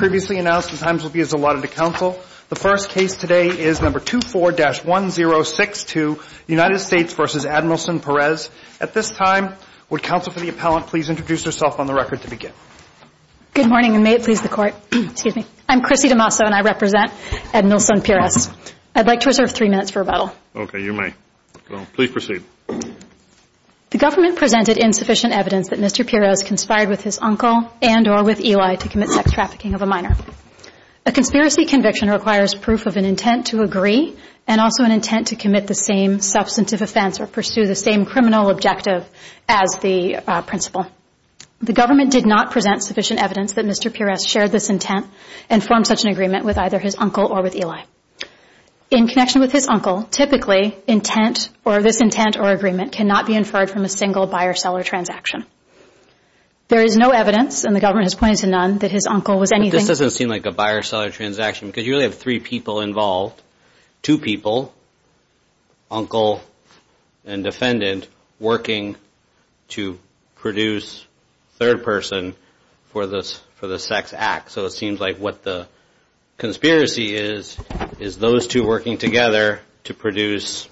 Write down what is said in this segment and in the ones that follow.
The government presented insufficient evidence that Mr. Pires conspired with his uncle and or with Eli to commit sex trafficking of a minor. A conspiracy conviction requires proof of an intent to agree and also an intent to commit the same substantive offense or pursue the same criminal objective as the principal. The government did not present sufficient evidence that Mr. Pires shared this intent and formed such an agreement with either his uncle or with Eli. In connection with his uncle, typically, intent or this intent or agreement cannot be inferred from a single buyer-seller transaction. There is no evidence and the government has pointed to none that his uncle was anything. But this doesn't seem like a buyer-seller transaction because you really have three people involved. Two people, uncle and defendant, working to produce third person for the sex act. So it seems like what the conspiracy is, is those two working together to produce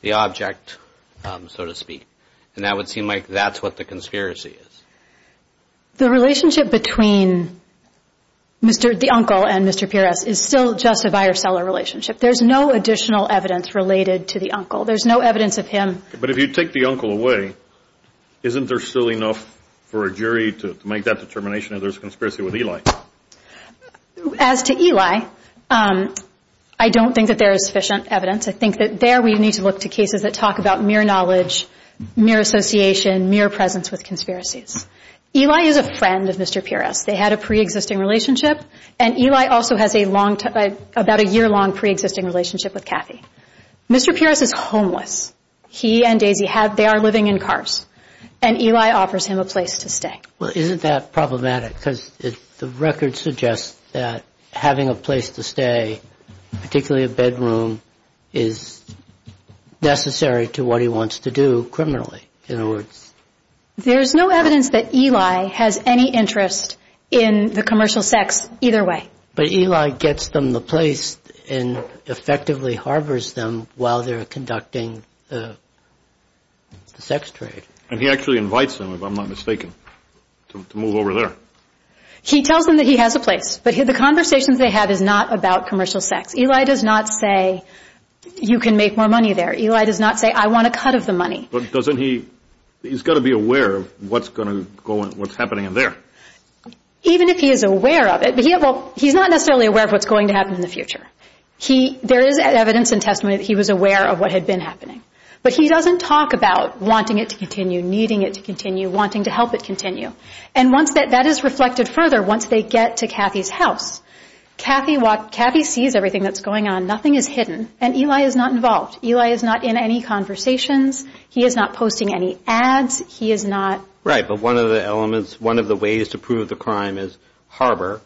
the object, so to speak. And that would seem like that's what the conspiracy is. The relationship between the uncle and Mr. Pires is still just a buyer-seller relationship. There's no additional evidence related to the uncle. There's no evidence of him. But if you take the uncle away, isn't there still enough for a jury to make that determination if there's a conspiracy with Eli? As to Eli, I don't think that there is sufficient evidence. I think that there we need to look to cases that talk about mere knowledge, mere association, mere presence with conspiracies. Eli is a friend of Mr. Pires. They had a pre-existing relationship. And Eli also has a long, about a year-long pre-existing relationship with Kathy. Mr. Pires is homeless. He and Daisy have, they are living in cars. And Eli offers him a place to stay. Well, isn't that problematic? Because the record suggests that having a place to stay, particularly a bedroom, is necessary to what he wants to do criminally, in other words. There's no evidence that Eli has any interest in the commercial sex either way. But Eli gets them the place and effectively harbors them while they're conducting the sex trade. And he actually invites them, if I'm not mistaken, to move over there. He tells them that he has a place, but the conversations they have is not about commercial sex. Eli does not say, you can make more money there. Eli does not say, I want a cut of the money. But doesn't he, he's got to be aware of what's going to go on, what's happening in there. Even if he is aware of it, but he, well, he's not necessarily aware of what's going to happen in the future. He, there is evidence and testimony that he was aware of what had been happening. But he doesn't talk about wanting it to continue, needing it to continue, wanting to help it continue. And once that is reflected further, once they get to Kathy's house, Kathy sees everything that's going on. Nothing is hidden. And Eli is not involved. Eli is not in any conversations. He is not posting any ads. He is not... Right. But one of the elements, one of the ways to prove the crime is harbor.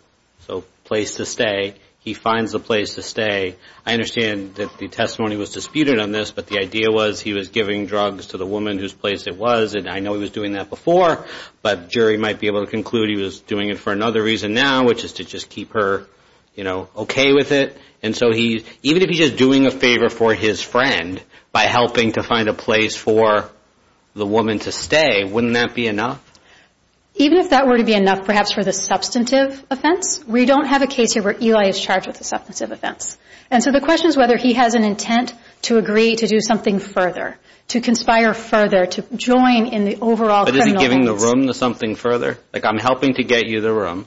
So place to stay. He finds a place to stay. I understand that the testimony was disputed on this, but the idea was he was giving drugs to the woman whose place it was. And I know he was doing that before. But jury might be able to conclude he was doing it for another reason now, which is to just keep her, you know, okay with it. And so he, even if he's just doing a favor for his friend by helping to find a place for the woman to stay, wouldn't that be enough? Even if that were to be enough, perhaps for the substantive offense, we don't have a case here where Eli is charged with a substantive offense. And so the question is whether he has an intent to agree to do something further, to conspire further, to join in the overall criminal case. But is he giving the room to something further? Like I'm helping to get you the room.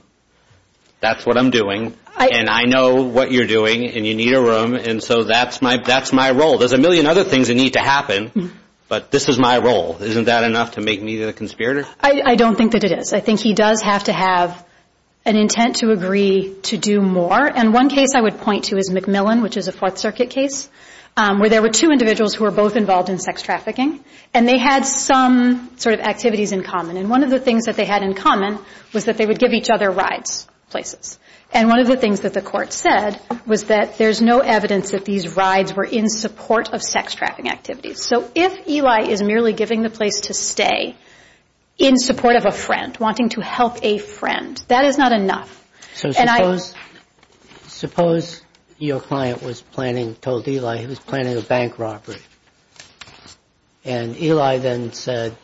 That's what I'm doing. And I know what you're doing and you need a room. And so that's my role. There's a million other things that need to happen, but this is my role. Isn't that enough to make me the conspirator? I don't think that it is. I think he does have to have an intent to agree to do more. And one case I would point to is McMillan, which is a Fourth Circuit case, where there were two individuals who were both involved in sex trafficking, and they had some sort of activities in common. And one of the things that they had in common was that they would give each other rides places. And one of the things that the court said was that there's no evidence that these rides were in support of sex trafficking activities. So if Eli is merely giving the place to stay in support of a friend, wanting to help a friend, that is not enough. So suppose your client was planning, told Eli he was planning a bank robbery, and Eli then said,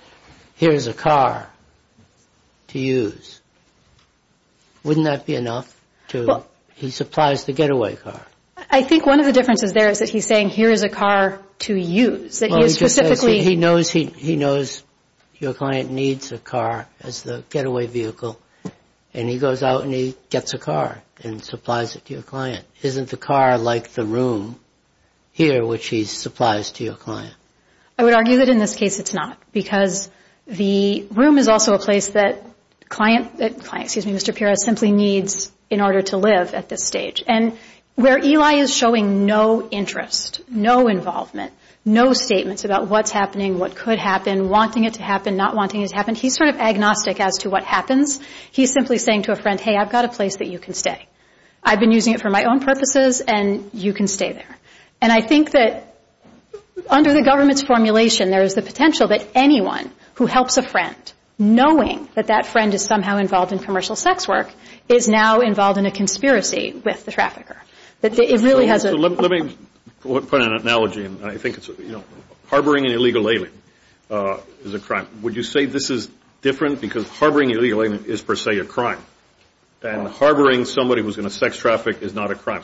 here's a car to use. Wouldn't that be enough? He supplies the getaway car. I think one of the differences there is that he's saying, here is a car to use. He knows your client needs a car as the getaway vehicle, and he goes out and he gets a car and supplies it to your client. Isn't the car like the room here, which he supplies to your client? I would argue that in this case it's not, because the room is also a place that Mr. Pira simply needs in order to live at this stage. And where Eli is showing no interest, no involvement, no statements about what's happening, what could happen, wanting it to happen, not wanting it to happen, he's sort of agnostic as to what happens. He's simply saying to a friend, hey, I've got a place that you can stay. I've been using it for my own purposes, and you can stay there. And I think that under the government's formulation, there is the potential that anyone who helps a friend, knowing that that friend is somehow involved in commercial sex work, is now involved in a conspiracy with the trafficker. Let me put an analogy. Harboring an illegal alien is a crime. Would you say this is different, because harboring an illegal alien is per se a crime, than harboring somebody who's in a sex traffic is not a crime?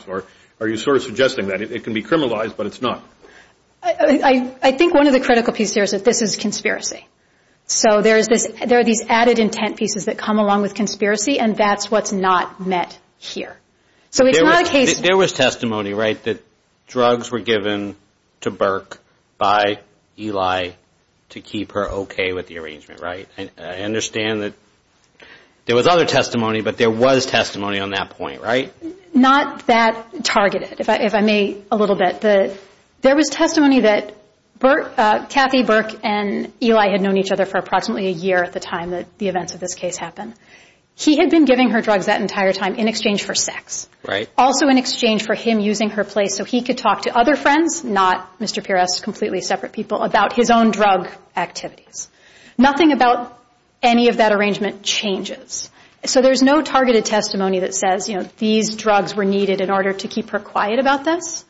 Are you sort of suggesting that? It can be criminalized, but it's not. I think one of the critical pieces here is that this is conspiracy. So there are these added intent pieces that come along with conspiracy, and that's what's not met here. So it's not a case... There was testimony, right, that drugs were given to Burke by Eli to keep her okay with the arrangement, right? I understand that there was other testimony, but there was testimony on that point, right? Not that targeted, if I may, a little bit. There was testimony that Kathy Burke and Eli had known each other for approximately a year at the time that the events of this case happened. He had been giving her drugs that entire time in exchange for sex. Also in exchange for him using her place so he could talk to other friends, not Mr. Pires, completely separate people, about his own drug activities. Nothing about any of that arrangement changes. So there's no targeted testimony that says, you know, these drugs were needed in order to keep her quiet about this.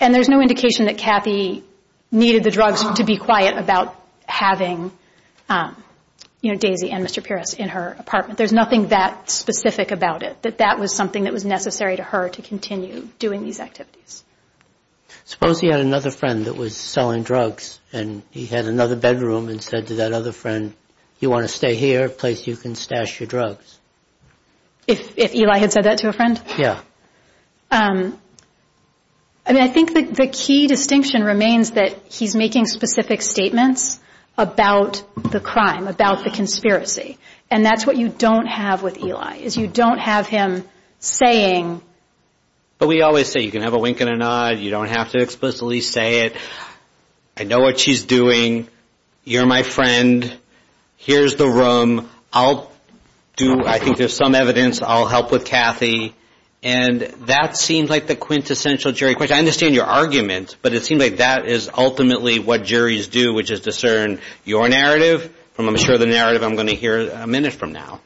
And there's no indication that Kathy needed the drugs to be quiet about having, you know, Daisy and Mr. Pires in her apartment. There's nothing that specific about it, that that was something that was necessary to her to continue doing these activities. Suppose he had another friend that was selling drugs and he had another bedroom and said to that other friend, you want to stay here, a place you can stash your drugs? If Eli had said that to a friend? Yeah. I mean, I think the key distinction remains that he's making specific statements about the crime, about the conspiracy. And that's what you don't have with Eli, is you don't have him saying. But we always say you can have a wink and a nod. You don't have to explicitly say it. I know what she's doing. You're my friend. Here's the room. I'll do, I think there's some evidence, I'll help with Kathy. And that seems like the quintessential jury question. I understand your argument, but it seems like that is ultimately what juries do, which is discern your narrative from, I'm sure, the narrative I'm going to hear a minute from now.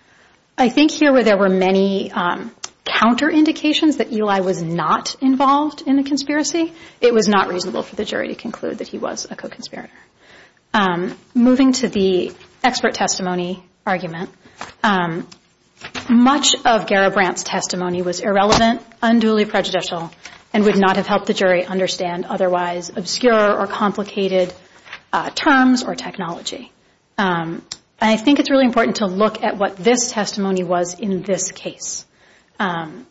I think here where there were many counterindications that Eli was not involved in the conspiracy, it was not reasonable for the jury to conclude that he was a co-conspirator. Moving to the expert testimony argument, much of Garibrant's testimony was irrelevant, unduly prejudicial, and would not have helped the jury understand otherwise obscure or complicated terms or technology. And I think it's really important to look at what this testimony was in this case. And,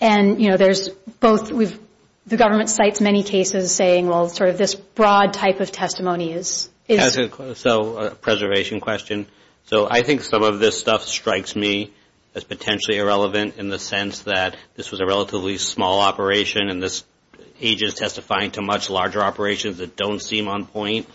you know, there's both, the government cites many cases saying, well, sort of this broad type of testimony is. So a preservation question. So I think some of this stuff strikes me as potentially irrelevant in the sense that this was a relatively small operation and this agent is testifying to much larger operations that don't seem on point.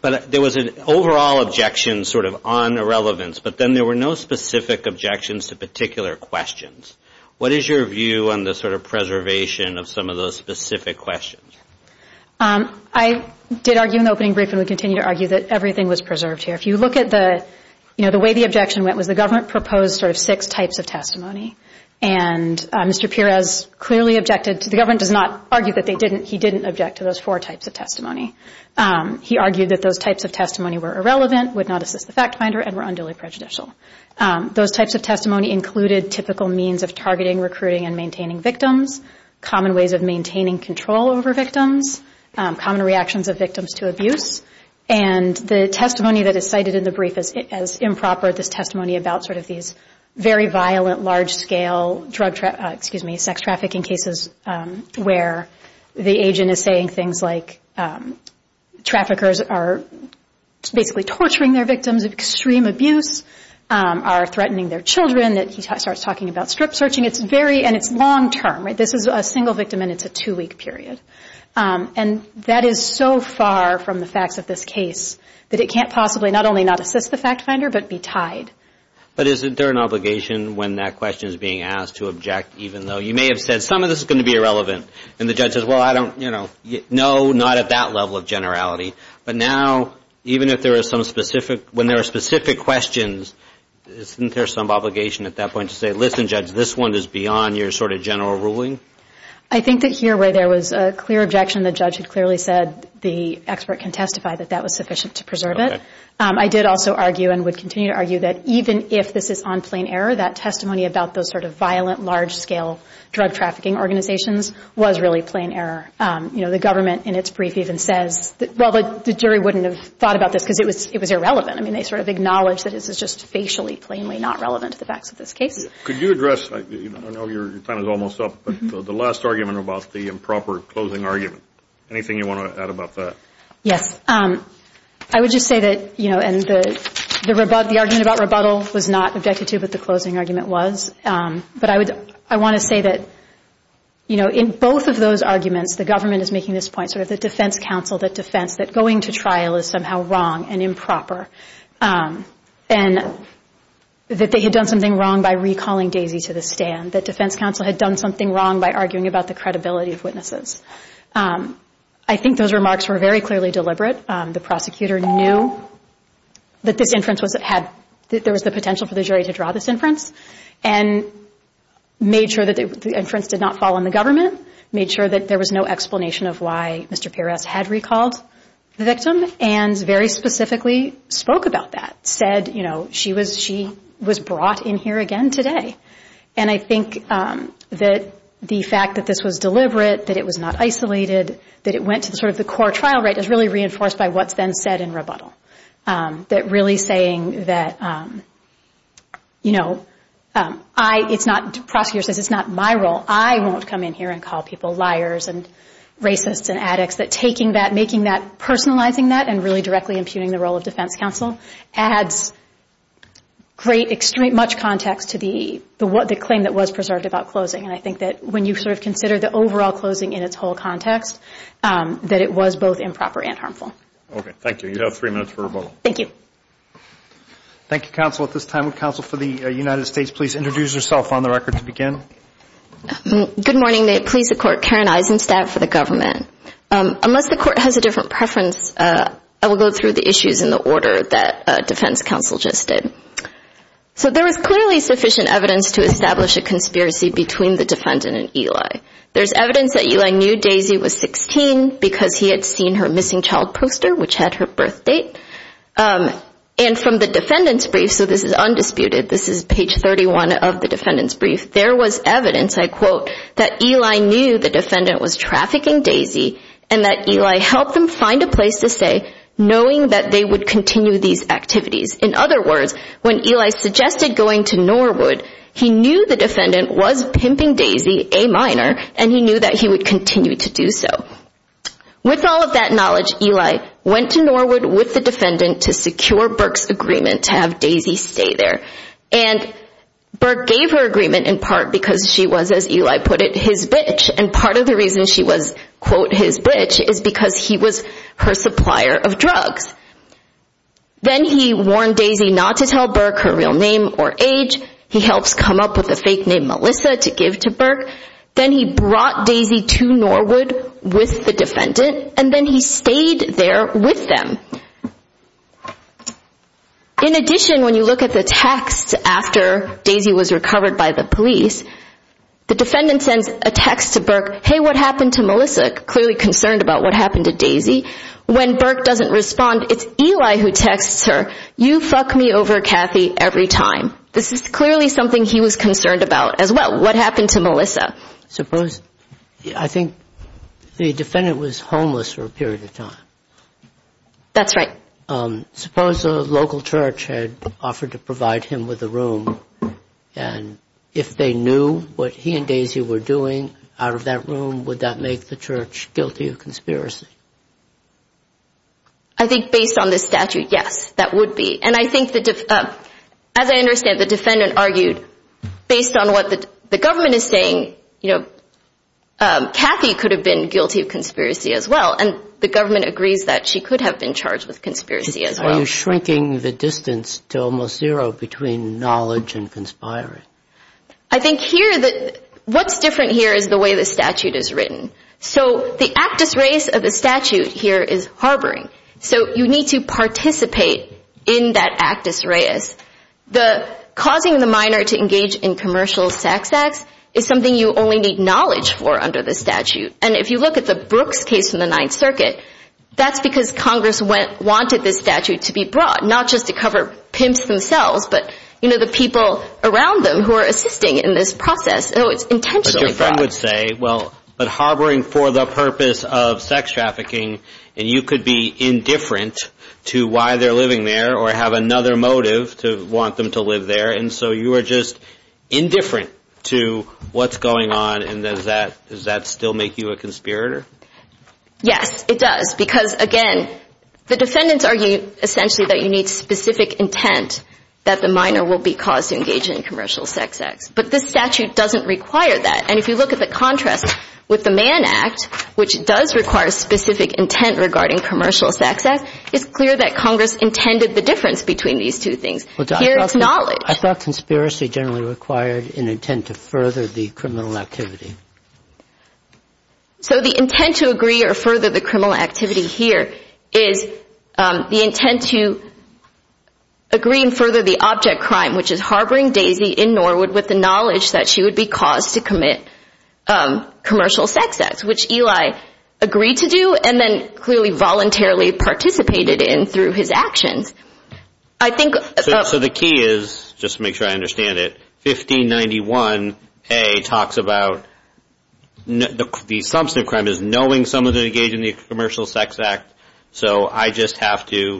But there was an overall objection sort of on irrelevance, but then there were no specific objections to particular questions. What is your view on the sort of preservation of some of those specific questions? I did argue in the opening brief and would continue to argue that everything was preserved here. If you look at the, you know, the way the objection went was the government proposed sort of six types of testimony. And Mr. Perez clearly objected to, the government does not argue that they didn't, he didn't object to those four types of testimony. He argued that those types of testimony were irrelevant, would not assist the fact finder, and were unduly prejudicial. Those types of testimony included typical means of targeting, recruiting, and maintaining victims, common ways of maintaining control over victims, common reactions of victims to abuse. And the testimony that is cited in the brief as improper, this testimony about sort of these very violent, large-scale drug trafficking, excuse me, sex trafficking cases where the agent is saying things like, traffickers are basically torturing their victims of extreme abuse, are threatening their children. He starts talking about strip searching. It's very, and it's long-term. This is a single victim and it's a two-week period. And that is so far from the facts of this case that it can't possibly not only not assist the fact finder, but be tied. But isn't there an obligation when that question is being asked to object, even though you may have said some of this is going to be irrelevant, and the judge says, well, I don't, you know, no, not at that level of generality. But now, even if there is some specific, when there are specific questions, isn't there some obligation at that point to say, listen, judge, this one is beyond your sort of general ruling? I think that here where there was a clear objection, the judge had clearly said the expert can testify that that was sufficient to preserve it. I did also argue and would continue to argue that even if this is on plain error, that testimony about those sort of violent, large-scale drug trafficking organizations was really plain error. You know, the government in its brief even says, well, the jury wouldn't have thought about this because it was irrelevant. I mean, they sort of acknowledged that this is just facially plainly not relevant to the facts of this case. Could you address, I know your time is almost up, but the last argument about the improper closing argument, anything you want to add about that? Yes. I would just say that, you know, and the argument about rebuttal was not objected to, but the closing argument was. But I want to say that, you know, in both of those arguments, the government is making this point, sort of the defense counsel, the defense, that going to trial is somehow wrong and improper, and that they had done something wrong by recalling Daisy to the stand, that defense counsel had done something wrong by arguing about the credibility of witnesses. I think those remarks were very clearly deliberate. The prosecutor knew that this inference was, that there was the potential for the jury to draw this inference and made sure that the inference did not fall on the government, made sure that there was no explanation of why Mr. Perez had recalled the victim, and very specifically spoke about that, said, you know, she was brought in here again today. And I think that the fact that this was deliberate, that it was not isolated, that it went to sort of the core trial rate is really reinforced by what's then said in rebuttal, that really saying that, you know, I, it's not, the prosecutor says it's not my role. I won't come in here and call people liars and racists and addicts, that taking that, making that, personalizing that, and really directly impugning the role of defense counsel adds great, extreme, much context to the claim that was preserved about closing. And I think that when you sort of consider the overall closing in its whole context, that it was both improper and harmful. Okay, thank you. You have three minutes for rebuttal. Thank you. Thank you, counsel. At this time, would counsel for the United States please introduce herself on the record to begin? Good morning. May it please the Court, Karen Eisenstadt for the government. Unless the Court has a different preference, I will go through the issues in the order that defense counsel just did. So there is clearly sufficient evidence to establish a conspiracy between the defendant and Eli. There's evidence that Eli knew Daisy was 16 because he had seen her missing child poster, which had her birth date. And from the defendant's brief, so this is undisputed, this is page 31 of the defendant's brief, there was evidence, I quote, that Eli knew the defendant was trafficking Daisy and that Eli helped them find a place to stay, knowing that they would continue these activities. In other words, when Eli suggested going to Norwood, he knew the defendant was pimping Daisy, a minor, and he knew that he would continue to do so. With all of that knowledge, Eli went to Norwood with the defendant to secure Burke's agreement to have Daisy stay there. And Burke gave her agreement in part because she was, as Eli put it, his bitch. And part of the reason she was, quote, his bitch is because he was her supplier of drugs. Then he warned Daisy not to tell Burke her real name or age. He helps come up with a fake name, Melissa, to give to Burke. Then he brought Daisy to Norwood with the defendant, and then he stayed there with them. In addition, when you look at the text after Daisy was recovered by the police, the defendant sends a text to Burke, hey, what happened to Melissa? Clearly concerned about what happened to Daisy. When Burke doesn't respond, it's Eli who texts her, you fuck me over, Kathy, every time. This is clearly something he was concerned about as well. What happened to Melissa? I think the defendant was homeless for a period of time. That's right. Suppose a local church had offered to provide him with a room, and if they knew what he and Daisy were doing out of that room, would that make the church guilty of conspiracy? I think based on this statute, yes, that would be. And I think, as I understand, the defendant argued based on what the government is saying, you know, Kathy could have been guilty of conspiracy as well, and the government agrees that she could have been charged with conspiracy as well. You're shrinking the distance to almost zero between knowledge and conspiracy. I think here, what's different here is the way the statute is written. So the actus reus of the statute here is harboring. So you need to participate in that actus reus. Causing the minor to engage in commercial sex acts is something you only need knowledge for under the statute. And if you look at the Brooks case in the Ninth Circuit, that's because Congress wanted this statute to be brought, not just to cover pimps themselves, but, you know, the people around them who are assisting in this process. So it's intentionally brought. But your friend would say, well, but harboring for the purpose of sex trafficking, and you could be indifferent to why they're living there or have another motive to want them to live there, and so you are just indifferent to what's going on, and does that still make you a conspirator? Yes, it does. Because, again, the defendants argue essentially that you need specific intent that the minor will be caused to engage in commercial sex acts. But this statute doesn't require that. And if you look at the contrast with the Mann Act, which does require specific intent regarding commercial sex acts, it's clear that Congress intended the difference between these two things. Here it's knowledge. I thought conspiracy generally required an intent to further the criminal activity. So the intent to agree or further the criminal activity here is the intent to agree and further the object crime, which is harboring Daisy in Norwood with the knowledge that she would be caused to commit commercial sex acts, which Eli agreed to do and then clearly voluntarily participated in through his actions. So the key is, just to make sure I understand it, 1591A talks about the substance of the crime is knowing someone is engaged in a commercial sex act, so I just have to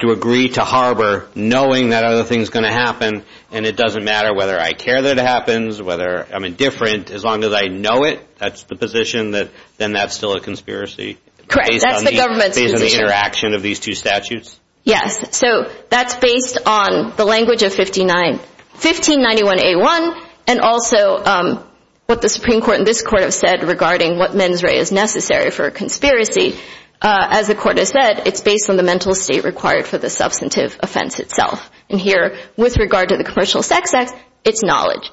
agree to harbor knowing that other things are going to happen, and it doesn't matter whether I care that it happens, whether I'm indifferent, as long as I know it, that's the position, then that's still a conspiracy. Correct. That's the government's position. Based on the interaction of these two statutes? Yes. So that's based on the language of 1591A1, and also what the Supreme Court and this Court have said regarding what mens rea is necessary for a conspiracy. As the Court has said, it's based on the mental state required for the substantive offense itself. And here, with regard to the Commercial Sex Act, it's knowledge.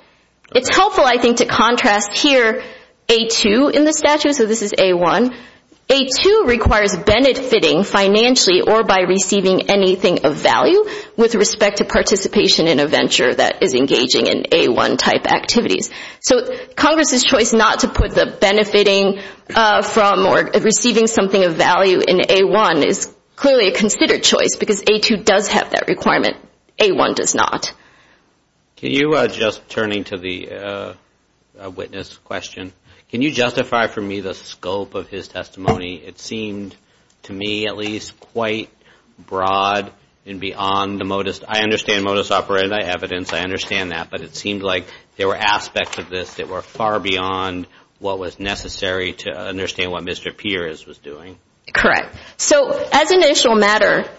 It's helpful, I think, to contrast here A2 in the statute, so this is A1. A2 requires benefiting financially or by receiving anything of value with respect to participation in a venture that is engaging in A1-type activities. So Congress's choice not to put the benefiting from or receiving something of value in A1 is clearly a considered choice because A2 does have that requirement. A1 does not. Can you, just turning to the witness question, can you justify for me the scope of his testimony? It seemed to me at least quite broad and beyond the modus. I understand modus operandi evidence, I understand that, but it seemed like there were aspects of this that were far beyond what was necessary to understand what Mr. Peers was doing. Correct. So as an initial matter,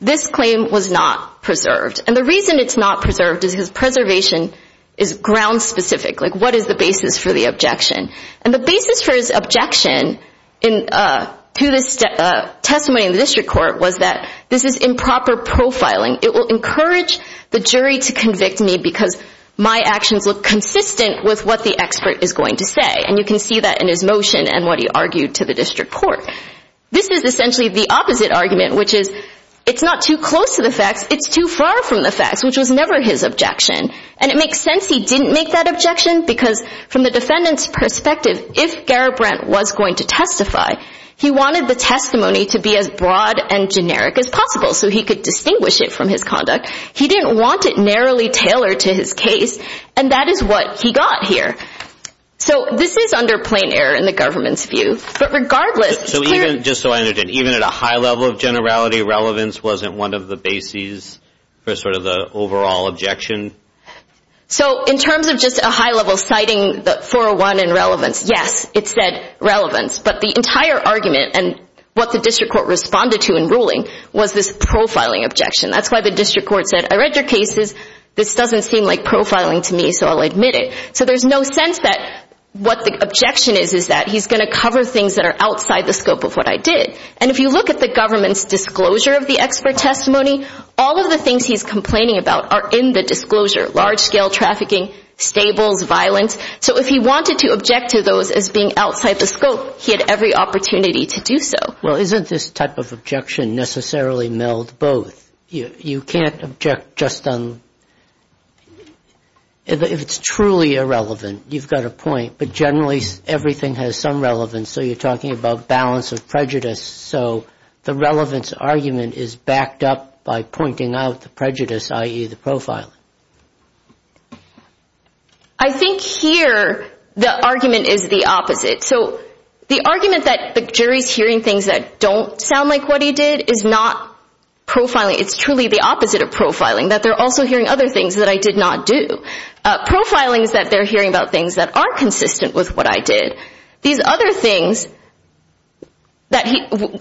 this claim was not preserved. And the reason it's not preserved is his preservation is ground-specific, like what is the basis for the objection? And the basis for his objection to this testimony in the district court was that this is improper profiling. It will encourage the jury to convict me because my actions look consistent with what the expert is going to say. And you can see that in his motion and what he argued to the district court. This is essentially the opposite argument, which is it's not too close to the facts, it's too far from the facts, which was never his objection. And it makes sense he didn't make that objection because from the defendant's perspective, if Garibrandt was going to testify, he wanted the testimony to be as broad and generic as possible so he could distinguish it from his conduct. He didn't want it narrowly tailored to his case, and that is what he got here. So this is under plain error in the government's view. But regardless, it's clear. So even, just so I understand, even at a high level of generality, relevance wasn't one of the bases for sort of the overall objection? So in terms of just a high-level citing the 401 in relevance, yes, it said relevance. But the entire argument and what the district court responded to in ruling was this profiling objection. That's why the district court said, I read your cases. This doesn't seem like profiling to me, so I'll admit it. So there's no sense that what the objection is, is that he's going to cover things that are outside the scope of what I did. And if you look at the government's disclosure of the expert testimony, all of the things he's complaining about are in the disclosure, large-scale trafficking, stables, violence. So if he wanted to object to those as being outside the scope, he had every opportunity to do so. Well, isn't this type of objection necessarily meld both? You can't object just on – if it's truly irrelevant, you've got a point. But generally, everything has some relevance, so you're talking about balance of prejudice. So the relevance argument is backed up by pointing out the prejudice, i.e., the profiling. I think here the argument is the opposite. So the argument that the jury's hearing things that don't sound like what he did is not profiling. It's truly the opposite of profiling, that they're also hearing other things that I did not do. Profiling is that they're hearing about things that aren't consistent with what I did. These other things,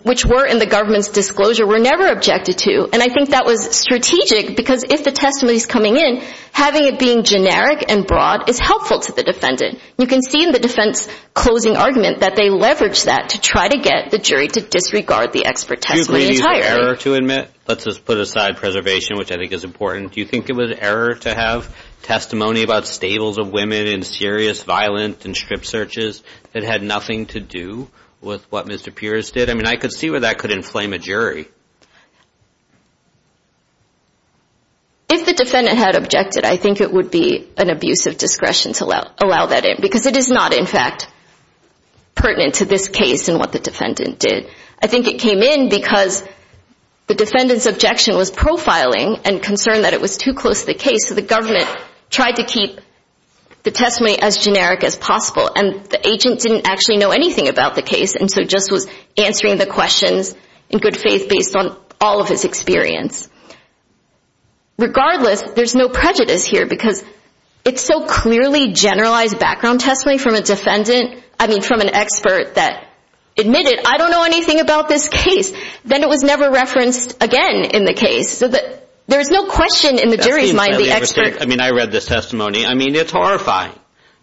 which were in the government's disclosure, were never objected to, and I think that was strategic because if the testimony's coming in, having it being generic and broad is helpful to the defendant. You can see in the defense closing argument that they leveraged that to try to get the jury to disregard the expert testimony entirely. Do you think it was an error to admit? Let's just put aside preservation, which I think is important. Do you think it was an error to have testimony about stables of women in serious violent and strip searches that had nothing to do with what Mr. Pierce did? I mean, I could see where that could inflame a jury. If the defendant had objected, I think it would be an abuse of discretion to allow that in because it is not, in fact, pertinent to this case and what the defendant did. I think it came in because the defendant's objection was profiling and concerned that it was too close to the case, so the government tried to keep the testimony as generic as possible, and the agent didn't actually know anything about the case and so just was answering the questions in good faith based on all of his experience. Regardless, there's no prejudice here because it's so clearly generalized background testimony from a defendant, I mean, from an expert that admitted, I don't know anything about this case. Then it was never referenced again in the case, so there's no question in the jury's mind the expert. I mean, I read this testimony. I mean, it's horrifying.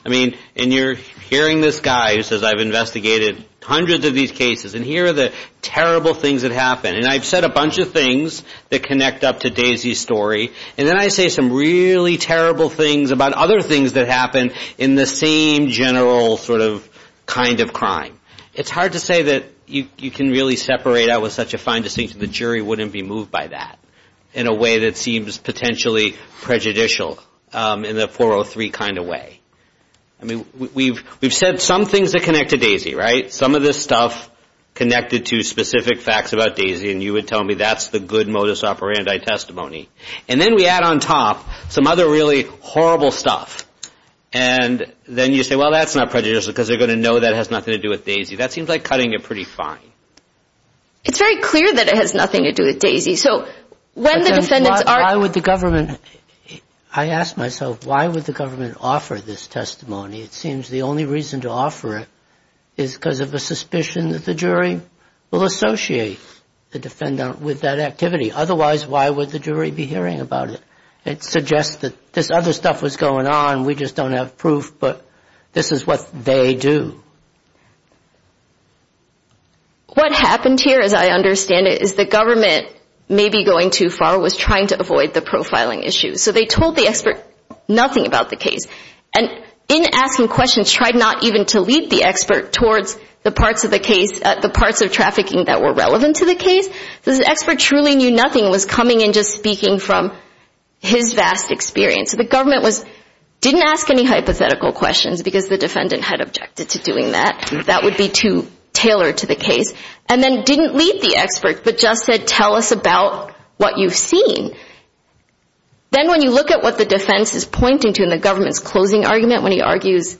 I mean, and you're hearing this guy who says, I've investigated hundreds of these cases, and here are the terrible things that happened, and I've said a bunch of things that connect up to Daisy's story, and then I say some really terrible things about other things that happened in the same general sort of kind of crime. It's hard to say that you can really separate out with such a fine distinction. The jury wouldn't be moved by that in a way that seems potentially prejudicial in the 403 kind of way. I mean, we've said some things that connect to Daisy, right? Some of this stuff connected to specific facts about Daisy, and you would tell me that's the good modus operandi testimony, and then we add on top some other really horrible stuff, and then you say, well, that's not prejudicial because they're going to know that it has nothing to do with Daisy. That seems like cutting it pretty fine. It's very clear that it has nothing to do with Daisy. So when the defendants are – Why would the government – I ask myself, why would the government offer this testimony? It seems the only reason to offer it is because of a suspicion that the jury will associate the defendant with that activity. Otherwise, why would the jury be hearing about it? It suggests that this other stuff was going on. We just don't have proof, but this is what they do. What happened here, as I understand it, is the government, maybe going too far, was trying to avoid the profiling issue. So they told the expert nothing about the case. And in asking questions, tried not even to lead the expert towards the parts of the case, the parts of trafficking that were relevant to the case. The expert truly knew nothing was coming and just speaking from his vast experience. So the government didn't ask any hypothetical questions because the defendant had objected to doing that. That would be too tailored to the case. And then didn't lead the expert, but just said, tell us about what you've seen. Then when you look at what the defense is pointing to in the government's closing argument, when he argues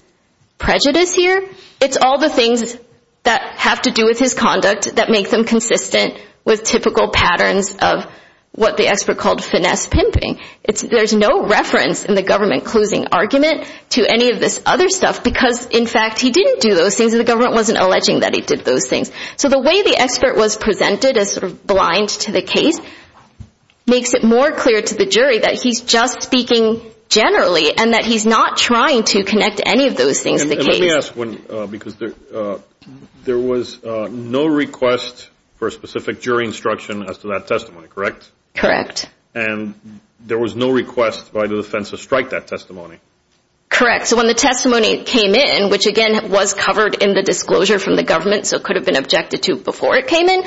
prejudice here, it's all the things that have to do with his conduct that make them consistent with typical patterns of what the expert called finesse pimping. There's no reference in the government closing argument to any of this other stuff because, in fact, he didn't do those things and the government wasn't alleging that he did those things. So the way the expert was presented as sort of blind to the case makes it more clear to the jury that he's just speaking generally and that he's not trying to connect any of those things to the case. Let me ask one, because there was no request for a specific jury instruction as to that testimony, correct? Correct. And there was no request by the defense to strike that testimony? Correct. So when the testimony came in, which, again, was covered in the disclosure from the government, so it could have been objected to before it came in,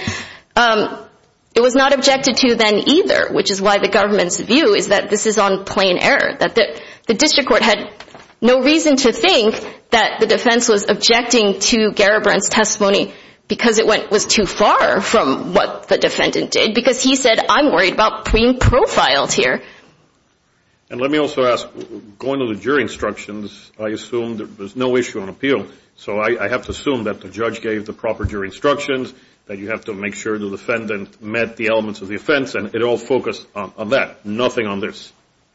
it was not objected to then either, which is why the government's view is that this is on plain error, that the district court had no reason to think that the defense was objecting to Garibrand's testimony because it was too far from what the defendant did because he said, I'm worried about being profiled here. And let me also ask, going to the jury instructions, I assume there's no issue on appeal, so I have to assume that the judge gave the proper jury instructions, that you have to make sure the defendant met the elements of the offense, and it all focused on that, nothing on this?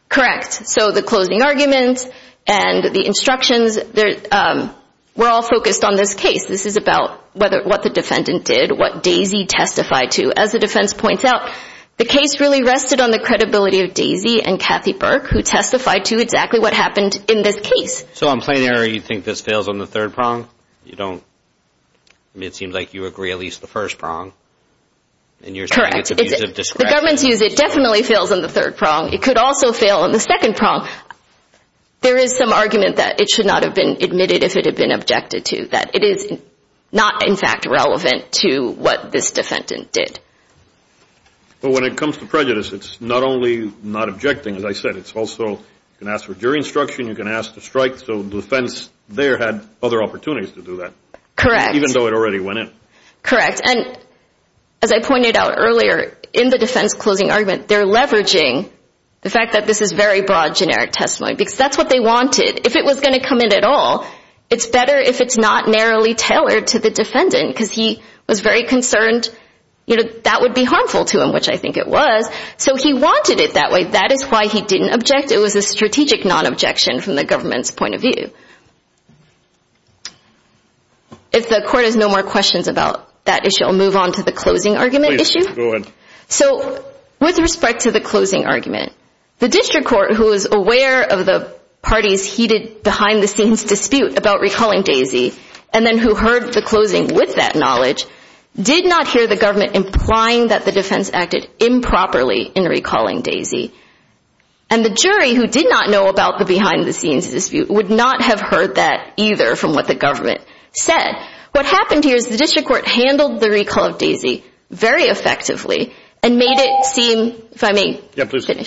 Correct. So the closing argument and the instructions were all focused on this case. This is about what the defendant did, what Daisy testified to. As the defense points out, the case really rested on the credibility of Daisy and Kathy Burke, who testified to exactly what happened in this case. So on plain error, you think this fails on the third prong? You don't? I mean, it seems like you agree at least the first prong. Correct. The government's view is it definitely fails on the third prong. It could also fail on the second prong. There is some argument that it should not have been admitted if it had been objected to, that it is not, in fact, relevant to what this defendant did. Well, when it comes to prejudice, it's not only not objecting, as I said, it's also you can ask for jury instruction, you can ask to strike. So the defense there had other opportunities to do that. Correct. Even though it already went in. Correct. And as I pointed out earlier, in the defense closing argument, they're leveraging the fact that this is very broad generic testimony because that's what they wanted. If it was going to come in at all, it's better if it's not narrowly tailored to the defendant because he was very concerned that would be harmful to him, which I think it was. So he wanted it that way. That is why he didn't object. It was a strategic non-objection from the government's point of view. If the court has no more questions about that issue, I'll move on to the closing argument issue. Please, go ahead. So with respect to the closing argument, the district court who is aware of the party's heated behind-the-scenes dispute about recalling Daisy and then who heard the closing with that knowledge did not hear the government implying that the defense acted improperly in recalling Daisy. And the jury who did not know about the behind-the-scenes dispute would not have heard that either from what the government said. What happened here is the district court handled the recall of Daisy very effectively and made it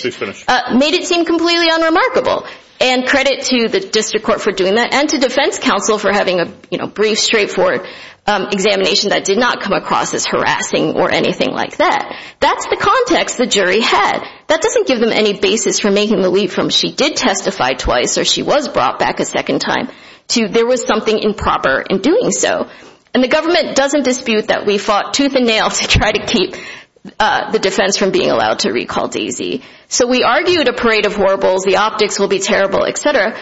seem completely unremarkable. And credit to the district court for doing that and to defense counsel for having a brief, straightforward examination that did not come across as harassing or anything like that. That's the context the jury had. That doesn't give them any basis for making the leap from she did testify twice or she was brought back a second time to there was something improper in doing so. And the government doesn't dispute that we fought tooth and nail to try to keep the defense from being allowed to recall Daisy. So we argued a parade of warbles, the optics will be terrible, et cetera.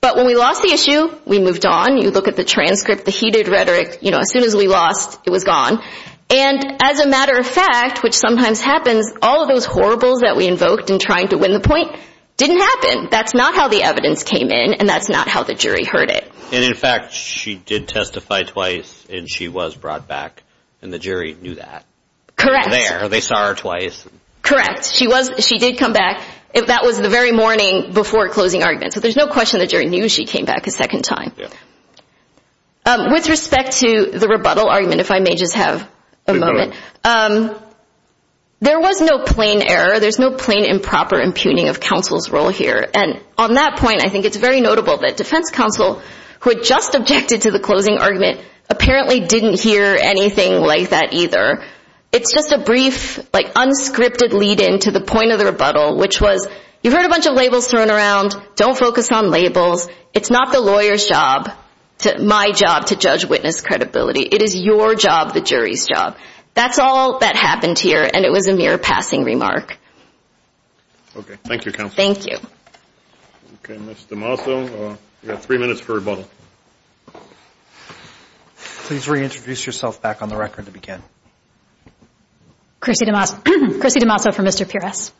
But when we lost the issue, we moved on. You look at the transcript, the heated rhetoric. As soon as we lost, it was gone. And as a matter of fact, which sometimes happens, all of those horribles that we invoked in trying to win the point didn't happen. That's not how the evidence came in, and that's not how the jury heard it. And in fact, she did testify twice, and she was brought back, and the jury knew that. Correct. They saw her twice. Correct. She did come back. That was the very morning before closing arguments. So there's no question the jury knew she came back a second time. With respect to the rebuttal argument, if I may just have a moment. There was no plain error. There's no plain improper impugning of counsel's role here. And on that point, I think it's very notable that defense counsel, who had just objected to the closing argument, apparently didn't hear anything like that either. It's just a brief unscripted lead-in to the point of the rebuttal, which was, you've heard a bunch of labels thrown around. Don't focus on labels. It's not the lawyer's job, my job, to judge witness credibility. It is your job, the jury's job. That's all that happened here, and it was a mere passing remark. Okay. Thank you, counsel. Thank you. Okay. Ms. DiMasso, you've got three minutes for rebuttal. Please reintroduce yourself back on the record to begin. Chrissy DiMasso for Mr. Pires.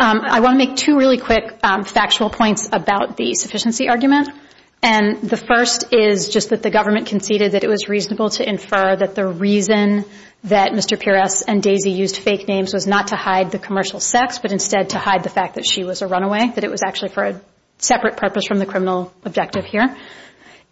I want to make two really quick factual points about the sufficiency argument. And the first is just that the government conceded that it was reasonable to infer that the reason that Mr. Pires and Daisy used fake names was not to hide the commercial sex, but instead to hide the fact that she was a runaway, that it was actually for a separate purpose from the criminal objective here.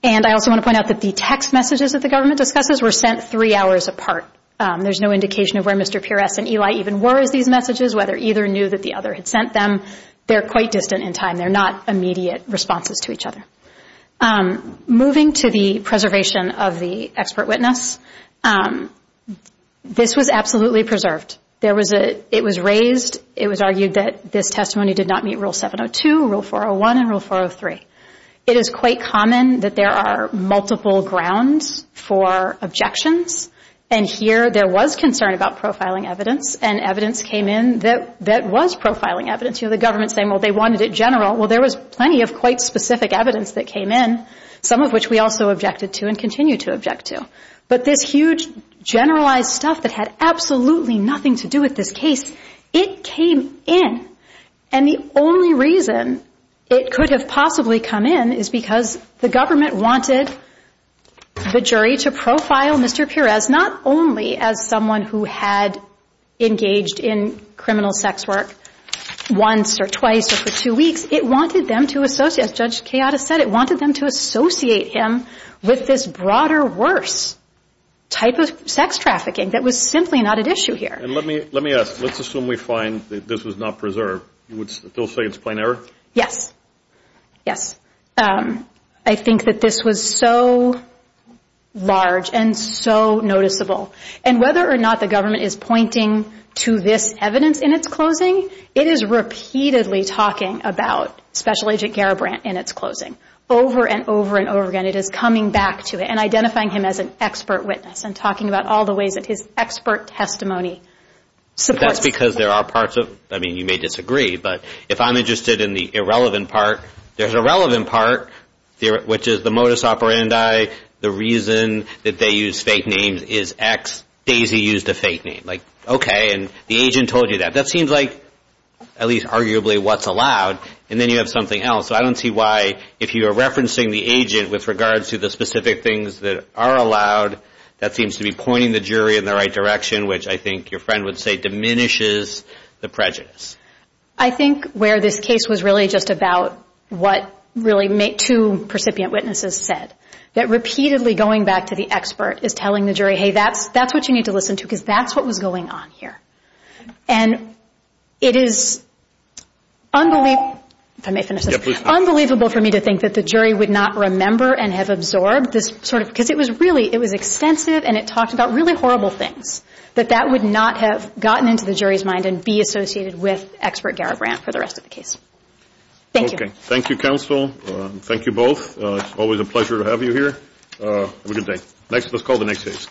And I also want to point out that the text messages that the government discusses were sent three hours apart. There's no indication of where Mr. Pires and Eli even were as these messages, whether either knew that the other had sent them. They're quite distant in time. They're not immediate responses to each other. Moving to the preservation of the expert witness, this was absolutely preserved. It was raised, it was argued that this testimony did not meet Rule 702, Rule 401, and Rule 403. It is quite common that there are multiple grounds for objections, and here there was concern about profiling evidence, and evidence came in that was profiling evidence. You have the government saying, well, they wanted it general. Well, there was plenty of quite specific evidence that came in, some of which we also objected to and continue to object to. But this huge generalized stuff that had absolutely nothing to do with this case, it came in. And the only reason it could have possibly come in is because the government wanted the jury to profile Mr. Pires not only as someone who had engaged in criminal sex work once or twice or for two weeks, it wanted them to associate, as Judge Chioda said, it wanted them to associate him with this broader, worse type of sex trafficking that was simply not at issue here. And let me ask. Let's assume we find that this was not preserved. You would still say it's plain error? Yes. Yes. I think that this was so large and so noticeable. And whether or not the government is pointing to this evidence in its closing, it is repeatedly talking about Special Agent Garibrandt in its closing, over and over and over again. It is coming back to it and identifying him as an expert witness and talking about all the ways that his expert testimony supports. But that's because there are parts of, I mean, you may disagree, but if I'm interested in the irrelevant part, there's a relevant part, which is the modus operandi, the reason that they use fake names is X, Daisy used a fake name. Like, okay, and the agent told you that. That seems like at least arguably what's allowed. And then you have something else. So I don't see why, if you are referencing the agent with regards to the specific things that are allowed, that seems to be pointing the jury in the right direction, which I think your friend would say diminishes the prejudice. I think where this case was really just about what really two percipient witnesses said, that repeatedly going back to the expert is telling the jury, hey, that's what you need to listen to because that's what was going on here. And it is unbelievable for me to think that the jury would not remember and have absorbed this sort of, because it was really, it was extensive, and it talked about really horrible things, that that would not have gotten into the jury's mind and be associated with expert Garrett Brandt for the rest of the case. Thank you. Okay. Thank you, counsel. Thank you both. It's always a pleasure to have you here. Have a good day. Let's call the next case.